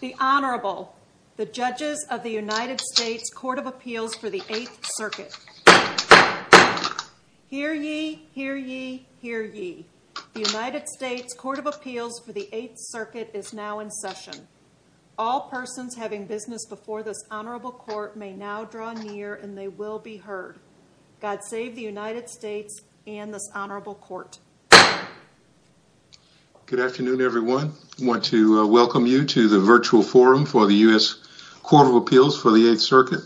The Honorable, the judges of the United States Court of Appeals for the Eighth Circuit. Hear ye, hear ye, hear ye. The United States Court of Appeals for the Eighth Circuit is now in session. All persons having business before this Honorable Court may now draw near and they will be heard. God save the United States and this Honorable Court. Good afternoon everyone. I want to welcome you to the virtual forum for the U.S. Court of Appeals for the Eighth Circuit.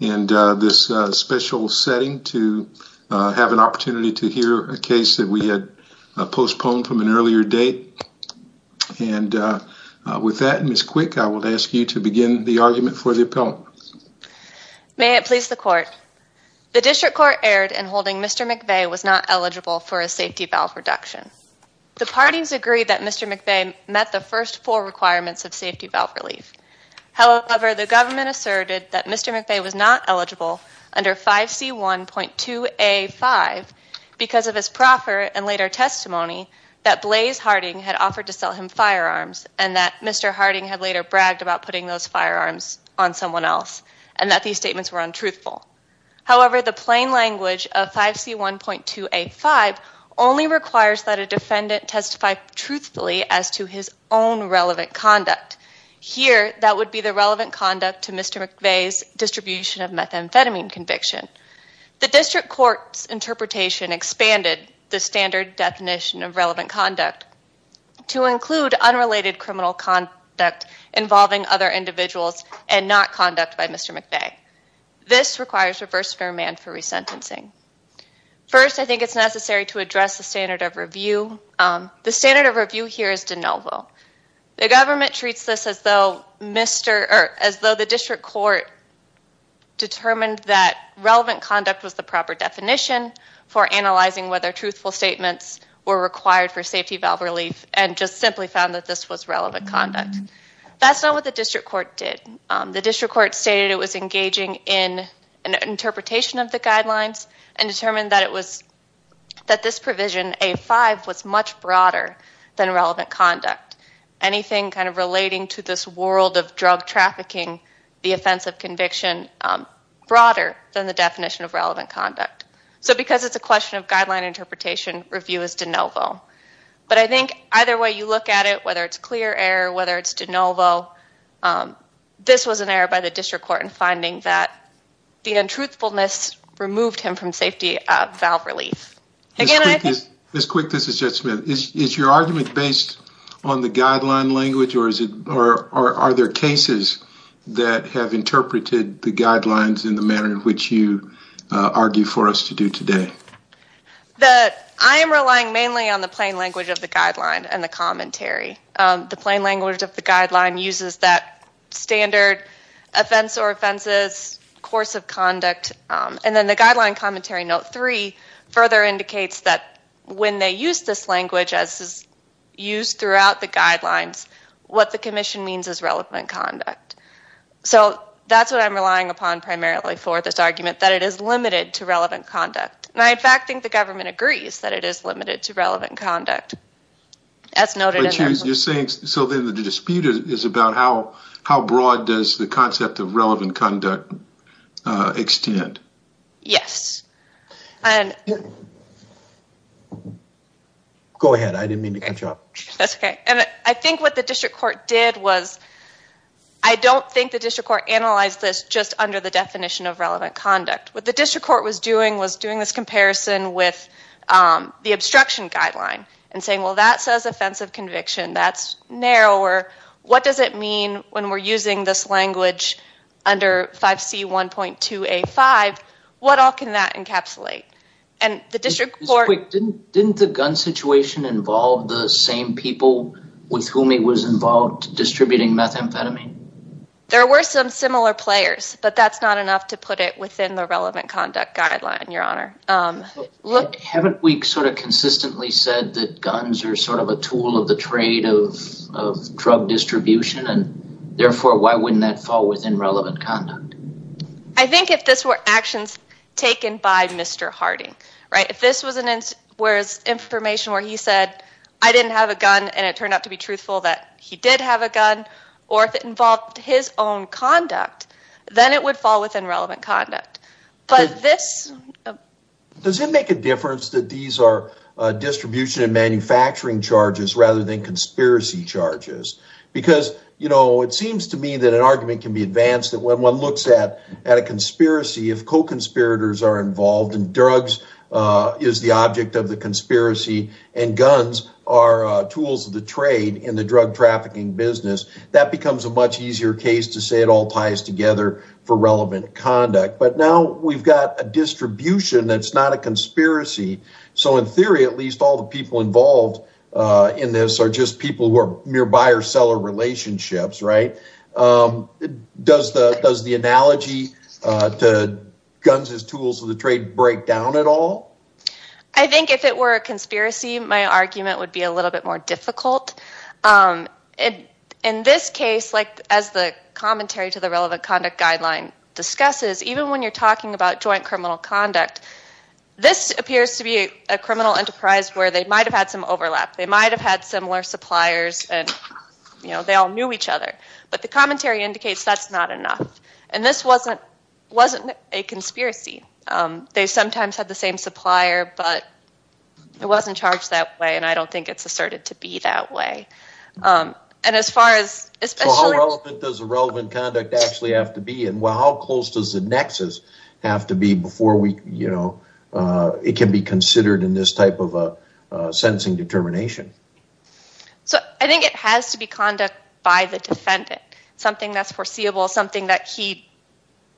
And this special setting to have an opportunity to hear a case that we had postponed from an earlier date. And with that, Ms. Quick, I will ask you to begin the argument for the appellant. May it please the Court. The District Court erred in holding Mr. McVay was not eligible for a safety valve reduction. The parties agreed that Mr. McVay met the first four requirements of safety valve relief. However, the government asserted that Mr. McVay was not eligible under 5C1.2A5 because of his proffer and later testimony that Blaze Harding had offered to sell him firearms and that Mr. Harding had later bragged about putting those firearms on someone else and that these statements were untruthful. However, the plain language of 5C1.2A5 only requires that a defendant testify truthfully as to his own relevant conduct. Here, that would be the relevant conduct to Mr. McVay's distribution of methamphetamine conviction. The District Court's interpretation expanded the standard definition of relevant conduct to include unrelated criminal conduct involving other individuals and not conduct by Mr. McVay. This requires reverse merman for resentencing. First, I think it's necessary to address the standard of review. The standard of review here is de novo. The government treats this as though the District Court determined that relevant conduct was the proper definition for analyzing whether truthful statements were required for safety valve relief and just simply found that this was relevant conduct. That's not what the District Court did. The District Court stated it was engaging in an interpretation of the guidelines and determined that this provision, A5, was much broader than relevant conduct. Anything kind of relating to this world of drug trafficking, the offense of conviction, broader than the definition of relevant conduct. So because it's a question of guideline interpretation, review is de novo. But I think either way you look at it, whether it's clear error, whether it's de novo, this was an error by the District Court in finding that the untruthfulness removed him from safety valve relief. Ms. Quick, this is Judge Smith. Is your argument based on the guideline language or are there cases that have interpreted the guidelines in the manner in which you argue for us to do today? I am relying mainly on the plain language of the guideline and the commentary. The plain language of the guideline uses that standard offense or offenses, course of conduct, and then the guideline commentary note 3 further indicates that when they use this language as is used throughout the guidelines, what the commission means is relevant conduct. So that's what I'm relying upon primarily for this argument, that it is limited to relevant conduct. And I in fact think the government agrees that it is limited to relevant conduct. But you're saying, so then the dispute is about how broad does the concept of relevant conduct extend? Yes. Go ahead. I didn't mean to cut you off. That's okay. And I think what the District Court did was, I don't think the District Court analyzed this just under the definition of relevant conduct. What the District Court was doing was doing this comparison with the obstruction guideline and saying, well, that says offensive conviction, that's narrower. What does it mean when we're using this language under 5C1.2A5? What all can that encapsulate? Didn't the gun situation involve the same people with whom he was involved distributing methamphetamine? There were some similar players, but that's not enough to put it within the relevant conduct guideline, Your Honor. Haven't we sort of consistently said that guns are sort of a tool of the trade of drug distribution and therefore why wouldn't that fall within relevant conduct? I think if this were actions taken by Mr. Harding, right? If this was information where he said, I didn't have a gun, and it turned out to be truthful that he did have a gun, or if it involved his own conduct, then it would fall within relevant conduct. Does it make a difference that these are distribution and manufacturing charges rather than conspiracy charges? Because, you know, it seems to me that an argument can be advanced that when one looks at a conspiracy, if co-conspirators are involved and drugs is the object of the conspiracy and guns are tools of the trade in the drug trafficking business, that becomes a much easier case to say it all ties together for relevant conduct. But now we've got a distribution that's not a conspiracy. So in theory, at least all the people involved in this are just people who are mere buyer-seller relationships, right? Does the analogy to guns as tools of the trade break down at all? I think if it were a conspiracy, my argument would be a little bit more difficult. In this case, as the commentary to the relevant conduct guideline discusses, even when you're talking about joint criminal conduct, this appears to be a criminal enterprise where they might have had some overlap. They might have had similar suppliers and they all knew each other. But the commentary indicates that's not enough. And this wasn't a conspiracy. They sometimes had the same supplier, but it wasn't charged that way and I don't think it's asserted to be that way. And as far as... So how relevant does the relevant conduct actually have to be and how close does the nexus have to be before it can be considered in this type of a sentencing determination? So I think it has to be conduct by the defendant. Something that's foreseeable, something that he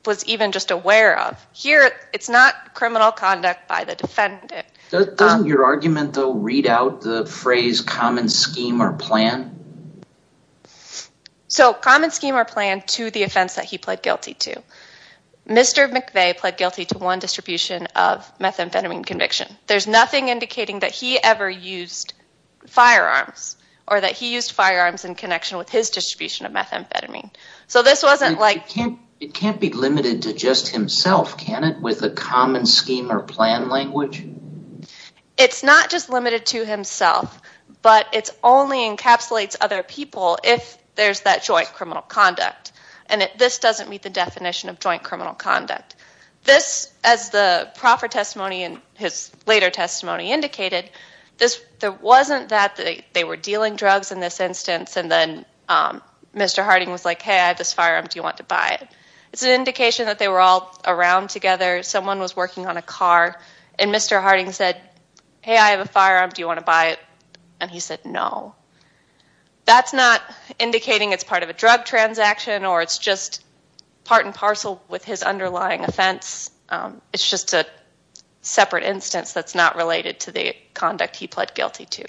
was even just aware of. Here, it's not criminal conduct by the defendant. Doesn't your argument, though, read out the phrase common scheme or plan? So common scheme or plan to the offense that he pled guilty to. Mr. McVeigh pled guilty to one distribution of methamphetamine conviction. There's nothing indicating that he ever used firearms or that he used firearms in connection with his distribution of methamphetamine. So this wasn't like... It can't be limited to just himself, can it, with a common scheme or plan language? It's not just limited to himself, but it only encapsulates other people if there's that joint criminal conduct. And this doesn't meet the definition of joint criminal conduct. This, as the proffer testimony and his later testimony indicated, there wasn't that they were dealing drugs in this instance and then Mr. Harding was like, hey, I have this firearm. Do you want to buy it? It's an indication that they were all around together. Someone was working on a car and Mr. Harding said, hey, I have a firearm. Do you want to buy it? And he said, no. That's not indicating it's part of a drug transaction or it's just part and parcel with his underlying offense. It's just a separate instance that's not related to the conduct he pled guilty to.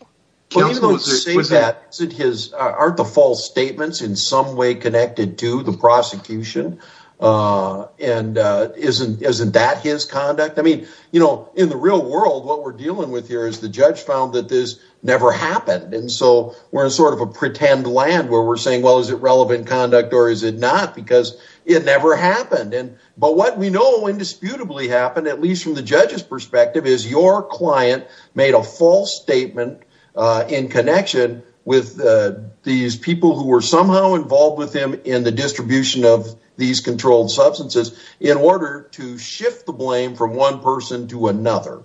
Aren't the false statements in some way connected to the prosecution? And isn't that his conduct? I mean, you know, in the real world, what we're dealing with here is the judge found that this never happened. And so we're in sort of a pretend land where we're saying, well, is it relevant conduct or is it not? Because it never happened. But what we know indisputably happened, at least from the judge's perspective, is your client made a false statement in connection with these people who were somehow involved with him in the distribution of these controlled substances in order to shift the blame from one person to another.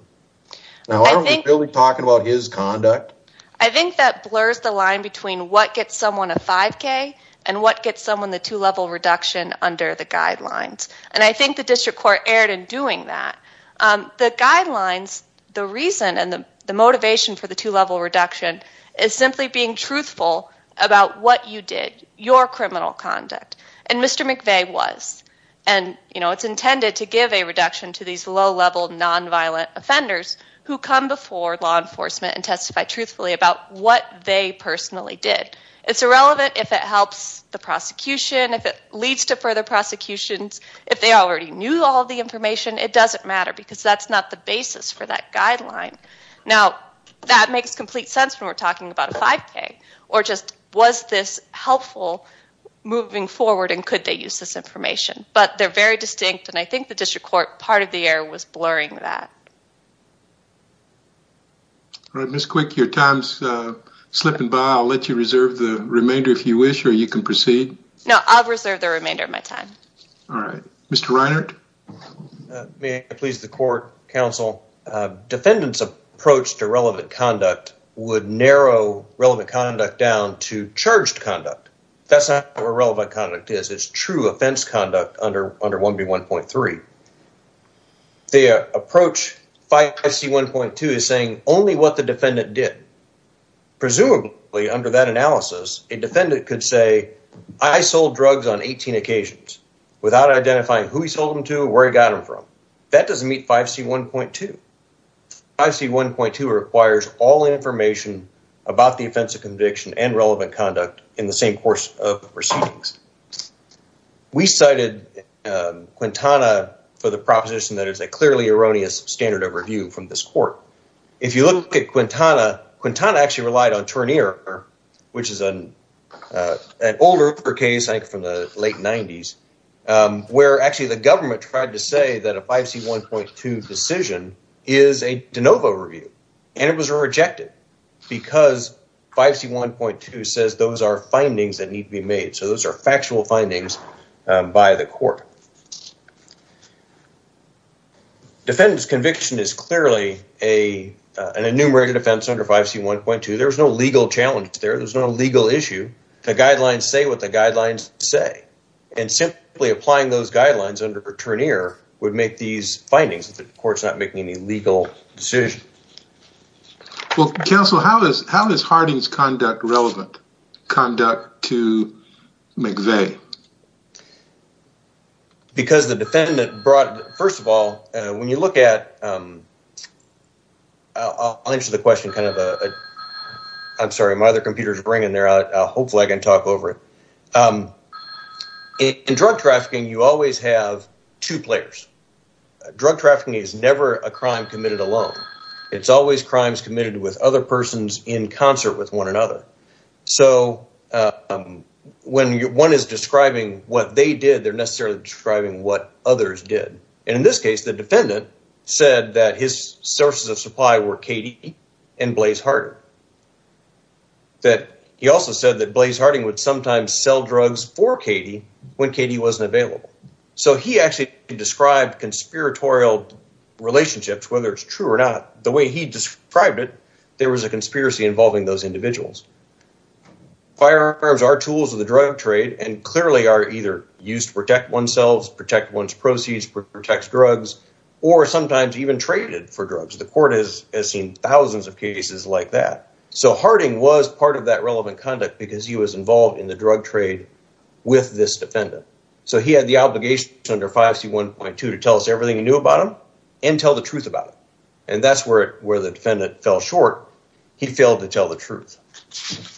Now, are we really talking about his conduct? I think that blurs the line between what gets someone a 5K and what gets someone the two-level reduction under the guidelines. And I think the district court erred in doing that. The guidelines, the reason and the motivation for the two-level reduction is simply being truthful about what you did, your criminal conduct. And Mr. McVeigh was. And, you know, it's intended to give a reduction to these low-level, nonviolent offenders who come before law enforcement and testify truthfully about what they personally did. It's irrelevant if it helps the prosecution, if it leads to further prosecutions. If they already knew all the information, it doesn't matter because that's not the basis for that guideline. Now, that makes complete sense when we're talking about a 5K. Or just, was this helpful moving forward and could they use this information? But they're very distinct, and I think the district court, part of the error, was blurring that. All right, Ms. Quick, your time's slipping by. I'll let you reserve the remainder if you wish, or you can proceed. No, I'll reserve the remainder of my time. All right. Mr. Reinert? May I please the court, counsel? Defendant's approach to relevant conduct would narrow relevant conduct down to charged conduct. That's not what relevant conduct is. It's true offense conduct under 1B1.3. The approach 5C1.2 is saying only what the defendant did. Presumably, under that analysis, a defendant could say, I sold drugs on 18 occasions without identifying who he sold them to or where he got them from. That doesn't meet 5C1.2. 5C1.2 requires all information about the offense of conviction and relevant conduct in the same course of proceedings. We cited Quintana for the proposition that it's a clearly erroneous standard of review from this court. If you look at Quintana, Quintana actually relied on Turnier, which is an older case, I think from the late 90s, where actually the government tried to say that a 5C1.2 decision is a de novo review. And it was rejected because 5C1.2 says those are findings that need to be made. So those are factual findings by the court. Defendant's conviction is clearly an enumerated offense under 5C1.2. There's no legal challenge there. There's no legal issue. The guidelines say what the guidelines say. And simply applying those guidelines under Turnier would make these findings. The court's not making any legal decision. Well, counsel, how is Harding's conduct relevant? Conduct to McVeigh? Because the defendant brought, first of all, when you look at... I'll answer the question kind of a... I'm sorry, my other computer's ringing there. Hopefully I can talk over it. In drug trafficking, you always have two players. Drug trafficking is never a crime committed alone. It's always crimes committed with other persons in concert with one another. So when one is describing what they did, they're necessarily describing what others did. And in this case, the defendant said that his sources of supply were Katie and Blaze Harding. He also said that Blaze Harding would sometimes sell drugs for Katie when Katie wasn't available. So he actually described conspiratorial relationships, whether it's true or not. The way he described it, there was a conspiracy involving those individuals. Firearms are tools of the drug trade and clearly are either used to protect oneself, protect one's proceeds, protect drugs, or sometimes even traded for drugs. The court has seen thousands of cases like that. So Harding was part of that relevant conduct because he was involved in the drug trade with this defendant. So he had the obligation under 5C1.2 to tell us everything he knew about him and tell the truth about it. And that's where the defendant fell short. He failed to tell the truth.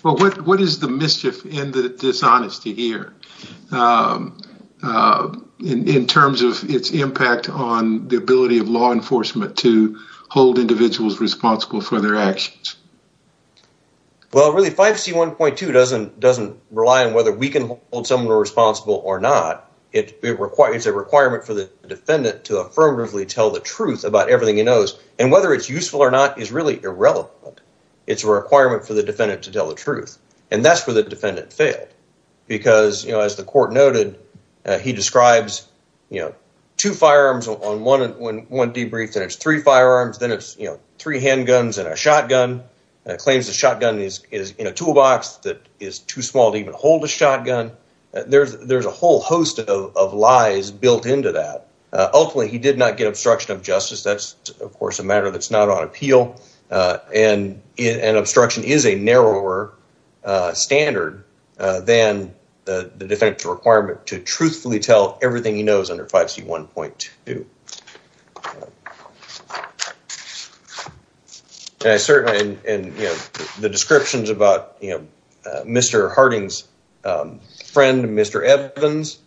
Well, what is the mischief in the dishonesty here in terms of its impact on the ability of law enforcement to hold individuals responsible for their actions? Well, really, 5C1.2 doesn't rely on whether we can hold someone responsible or not. It requires a requirement for the defendant to affirmatively tell the truth about everything he knows. And whether it's useful or not is really irrelevant. It's a requirement for the defendant to tell the truth. And that's where the defendant failed. Because as the court noted, he describes two firearms on one debrief. Then it's three firearms, then it's three handguns and a shotgun. Claims the shotgun is in a toolbox that is too small to even hold a shotgun. There's a whole host of lies built into that. Ultimately, he did not get obstruction of justice. That's, of course, a matter that's not on appeal. And obstruction is a narrower standard than the defendant's requirement to truthfully tell everything he knows under 5C1.2. And the descriptions about Mr. Harding's friend, Mr. Evans,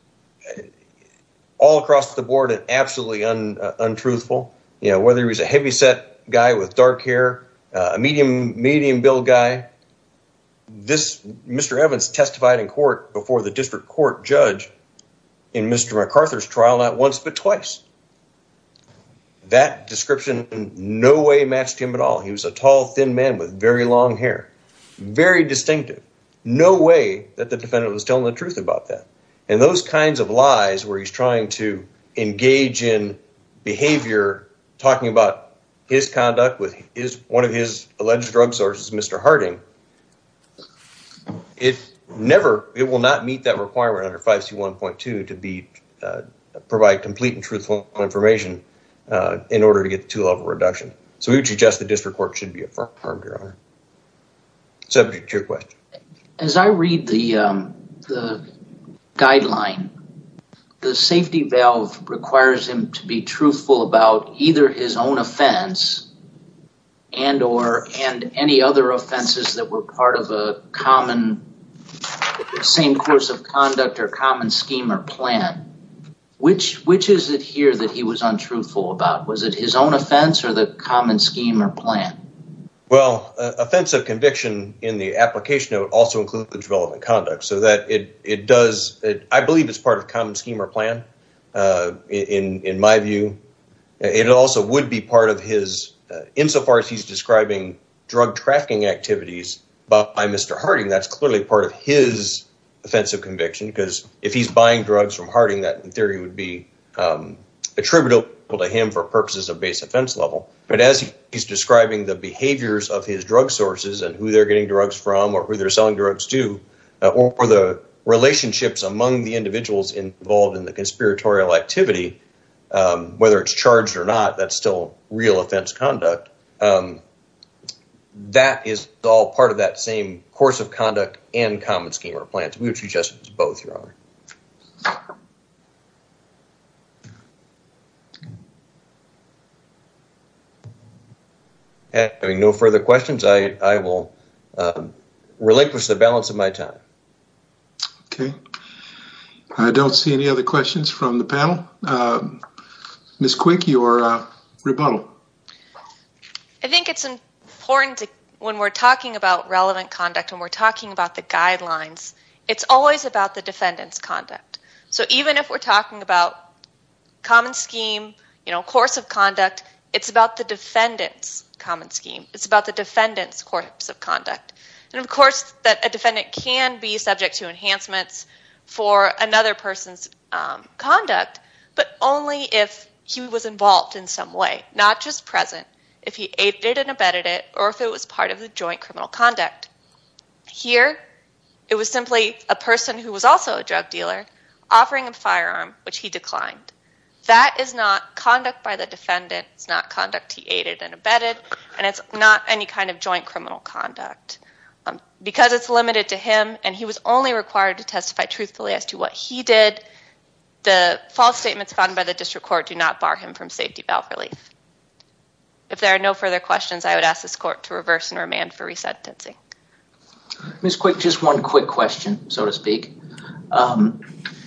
all across the board are absolutely untruthful. Whether he's a heavyset guy with dark hair, a medium build guy. Mr. Evans testified in court before the district court judge in Mr. MacArthur's trial, not once but twice. That description in no way matched him at all. He was a tall, thin man with very long hair. Very distinctive. No way that the defendant was telling the truth about that. And those kinds of lies where he's trying to engage in behavior, talking about his conduct with one of his alleged drug sources, Mr. Harding. It will not meet that requirement under 5C1.2 to provide complete and truthful information in order to get the two-level reduction. So we would suggest the district court should be affirmed, Your Honor. Subject to your question. As I read the guideline, the safety valve requires him to be truthful about either his own offense and any other offenses that were part of the same course of conduct or common scheme or plan. Which is it here that he was untruthful about? Was it his own offense or the common scheme or plan? Well, offense of conviction in the application note also includes the development of conduct. I believe it's part of common scheme or plan in my view. It also would be part of his, insofar as he's describing drug trafficking activities by Mr. Harding, that's clearly part of his offense of conviction. Because if he's buying drugs from Harding, that in theory would be attributable to him for purposes of base offense level. But as he's describing the behaviors of his drug sources and who they're getting drugs from or who they're selling drugs to, or the relationships among the individuals involved in the conspiratorial activity, whether it's charged or not, that's still real offense conduct. That is all part of that same course of conduct and common scheme or plans. We would suggest it's both, Your Honor. Having no further questions, I will relinquish the balance of my time. Okay. I don't see any other questions from the panel. Ms. Quick, you are rebuttal. I think it's important when we're talking about relevant conduct, when we're talking about the guidelines, it's always about the defendant's conduct. Even if we're talking about common scheme, course of conduct, it's about the defendant's common scheme. It's about the defendant's course of conduct. Of course, a defendant can be subject to enhancements for another person's conduct, but only if he was involved in some way. Not just present. If he aided and abetted it or if it was part of the joint criminal conduct. Here, it was simply a person who was also a drug dealer offering a firearm, which he declined. That is not conduct by the defendant. It's not conduct he aided and abetted, and it's not any kind of joint criminal conduct. Because it's limited to him and he was only required to testify truthfully as to what he did, the false statements found by the district court do not bar him from safety valve relief. If there are no further questions, I would ask this court to reverse and remand for resentencing. Ms. Quick, just one quick question, so to speak.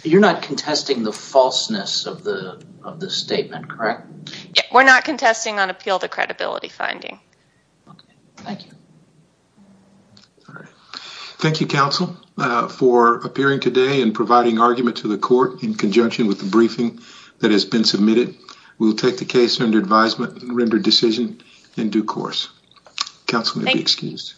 You're not contesting the falseness of the statement, correct? We're not contesting on appeal to credibility finding. Thank you. Thank you, counsel, for appearing today and providing argument to the court in conjunction with the briefing that has been submitted. We will take the case under advisement and render decision in due course. Counsel may be excused.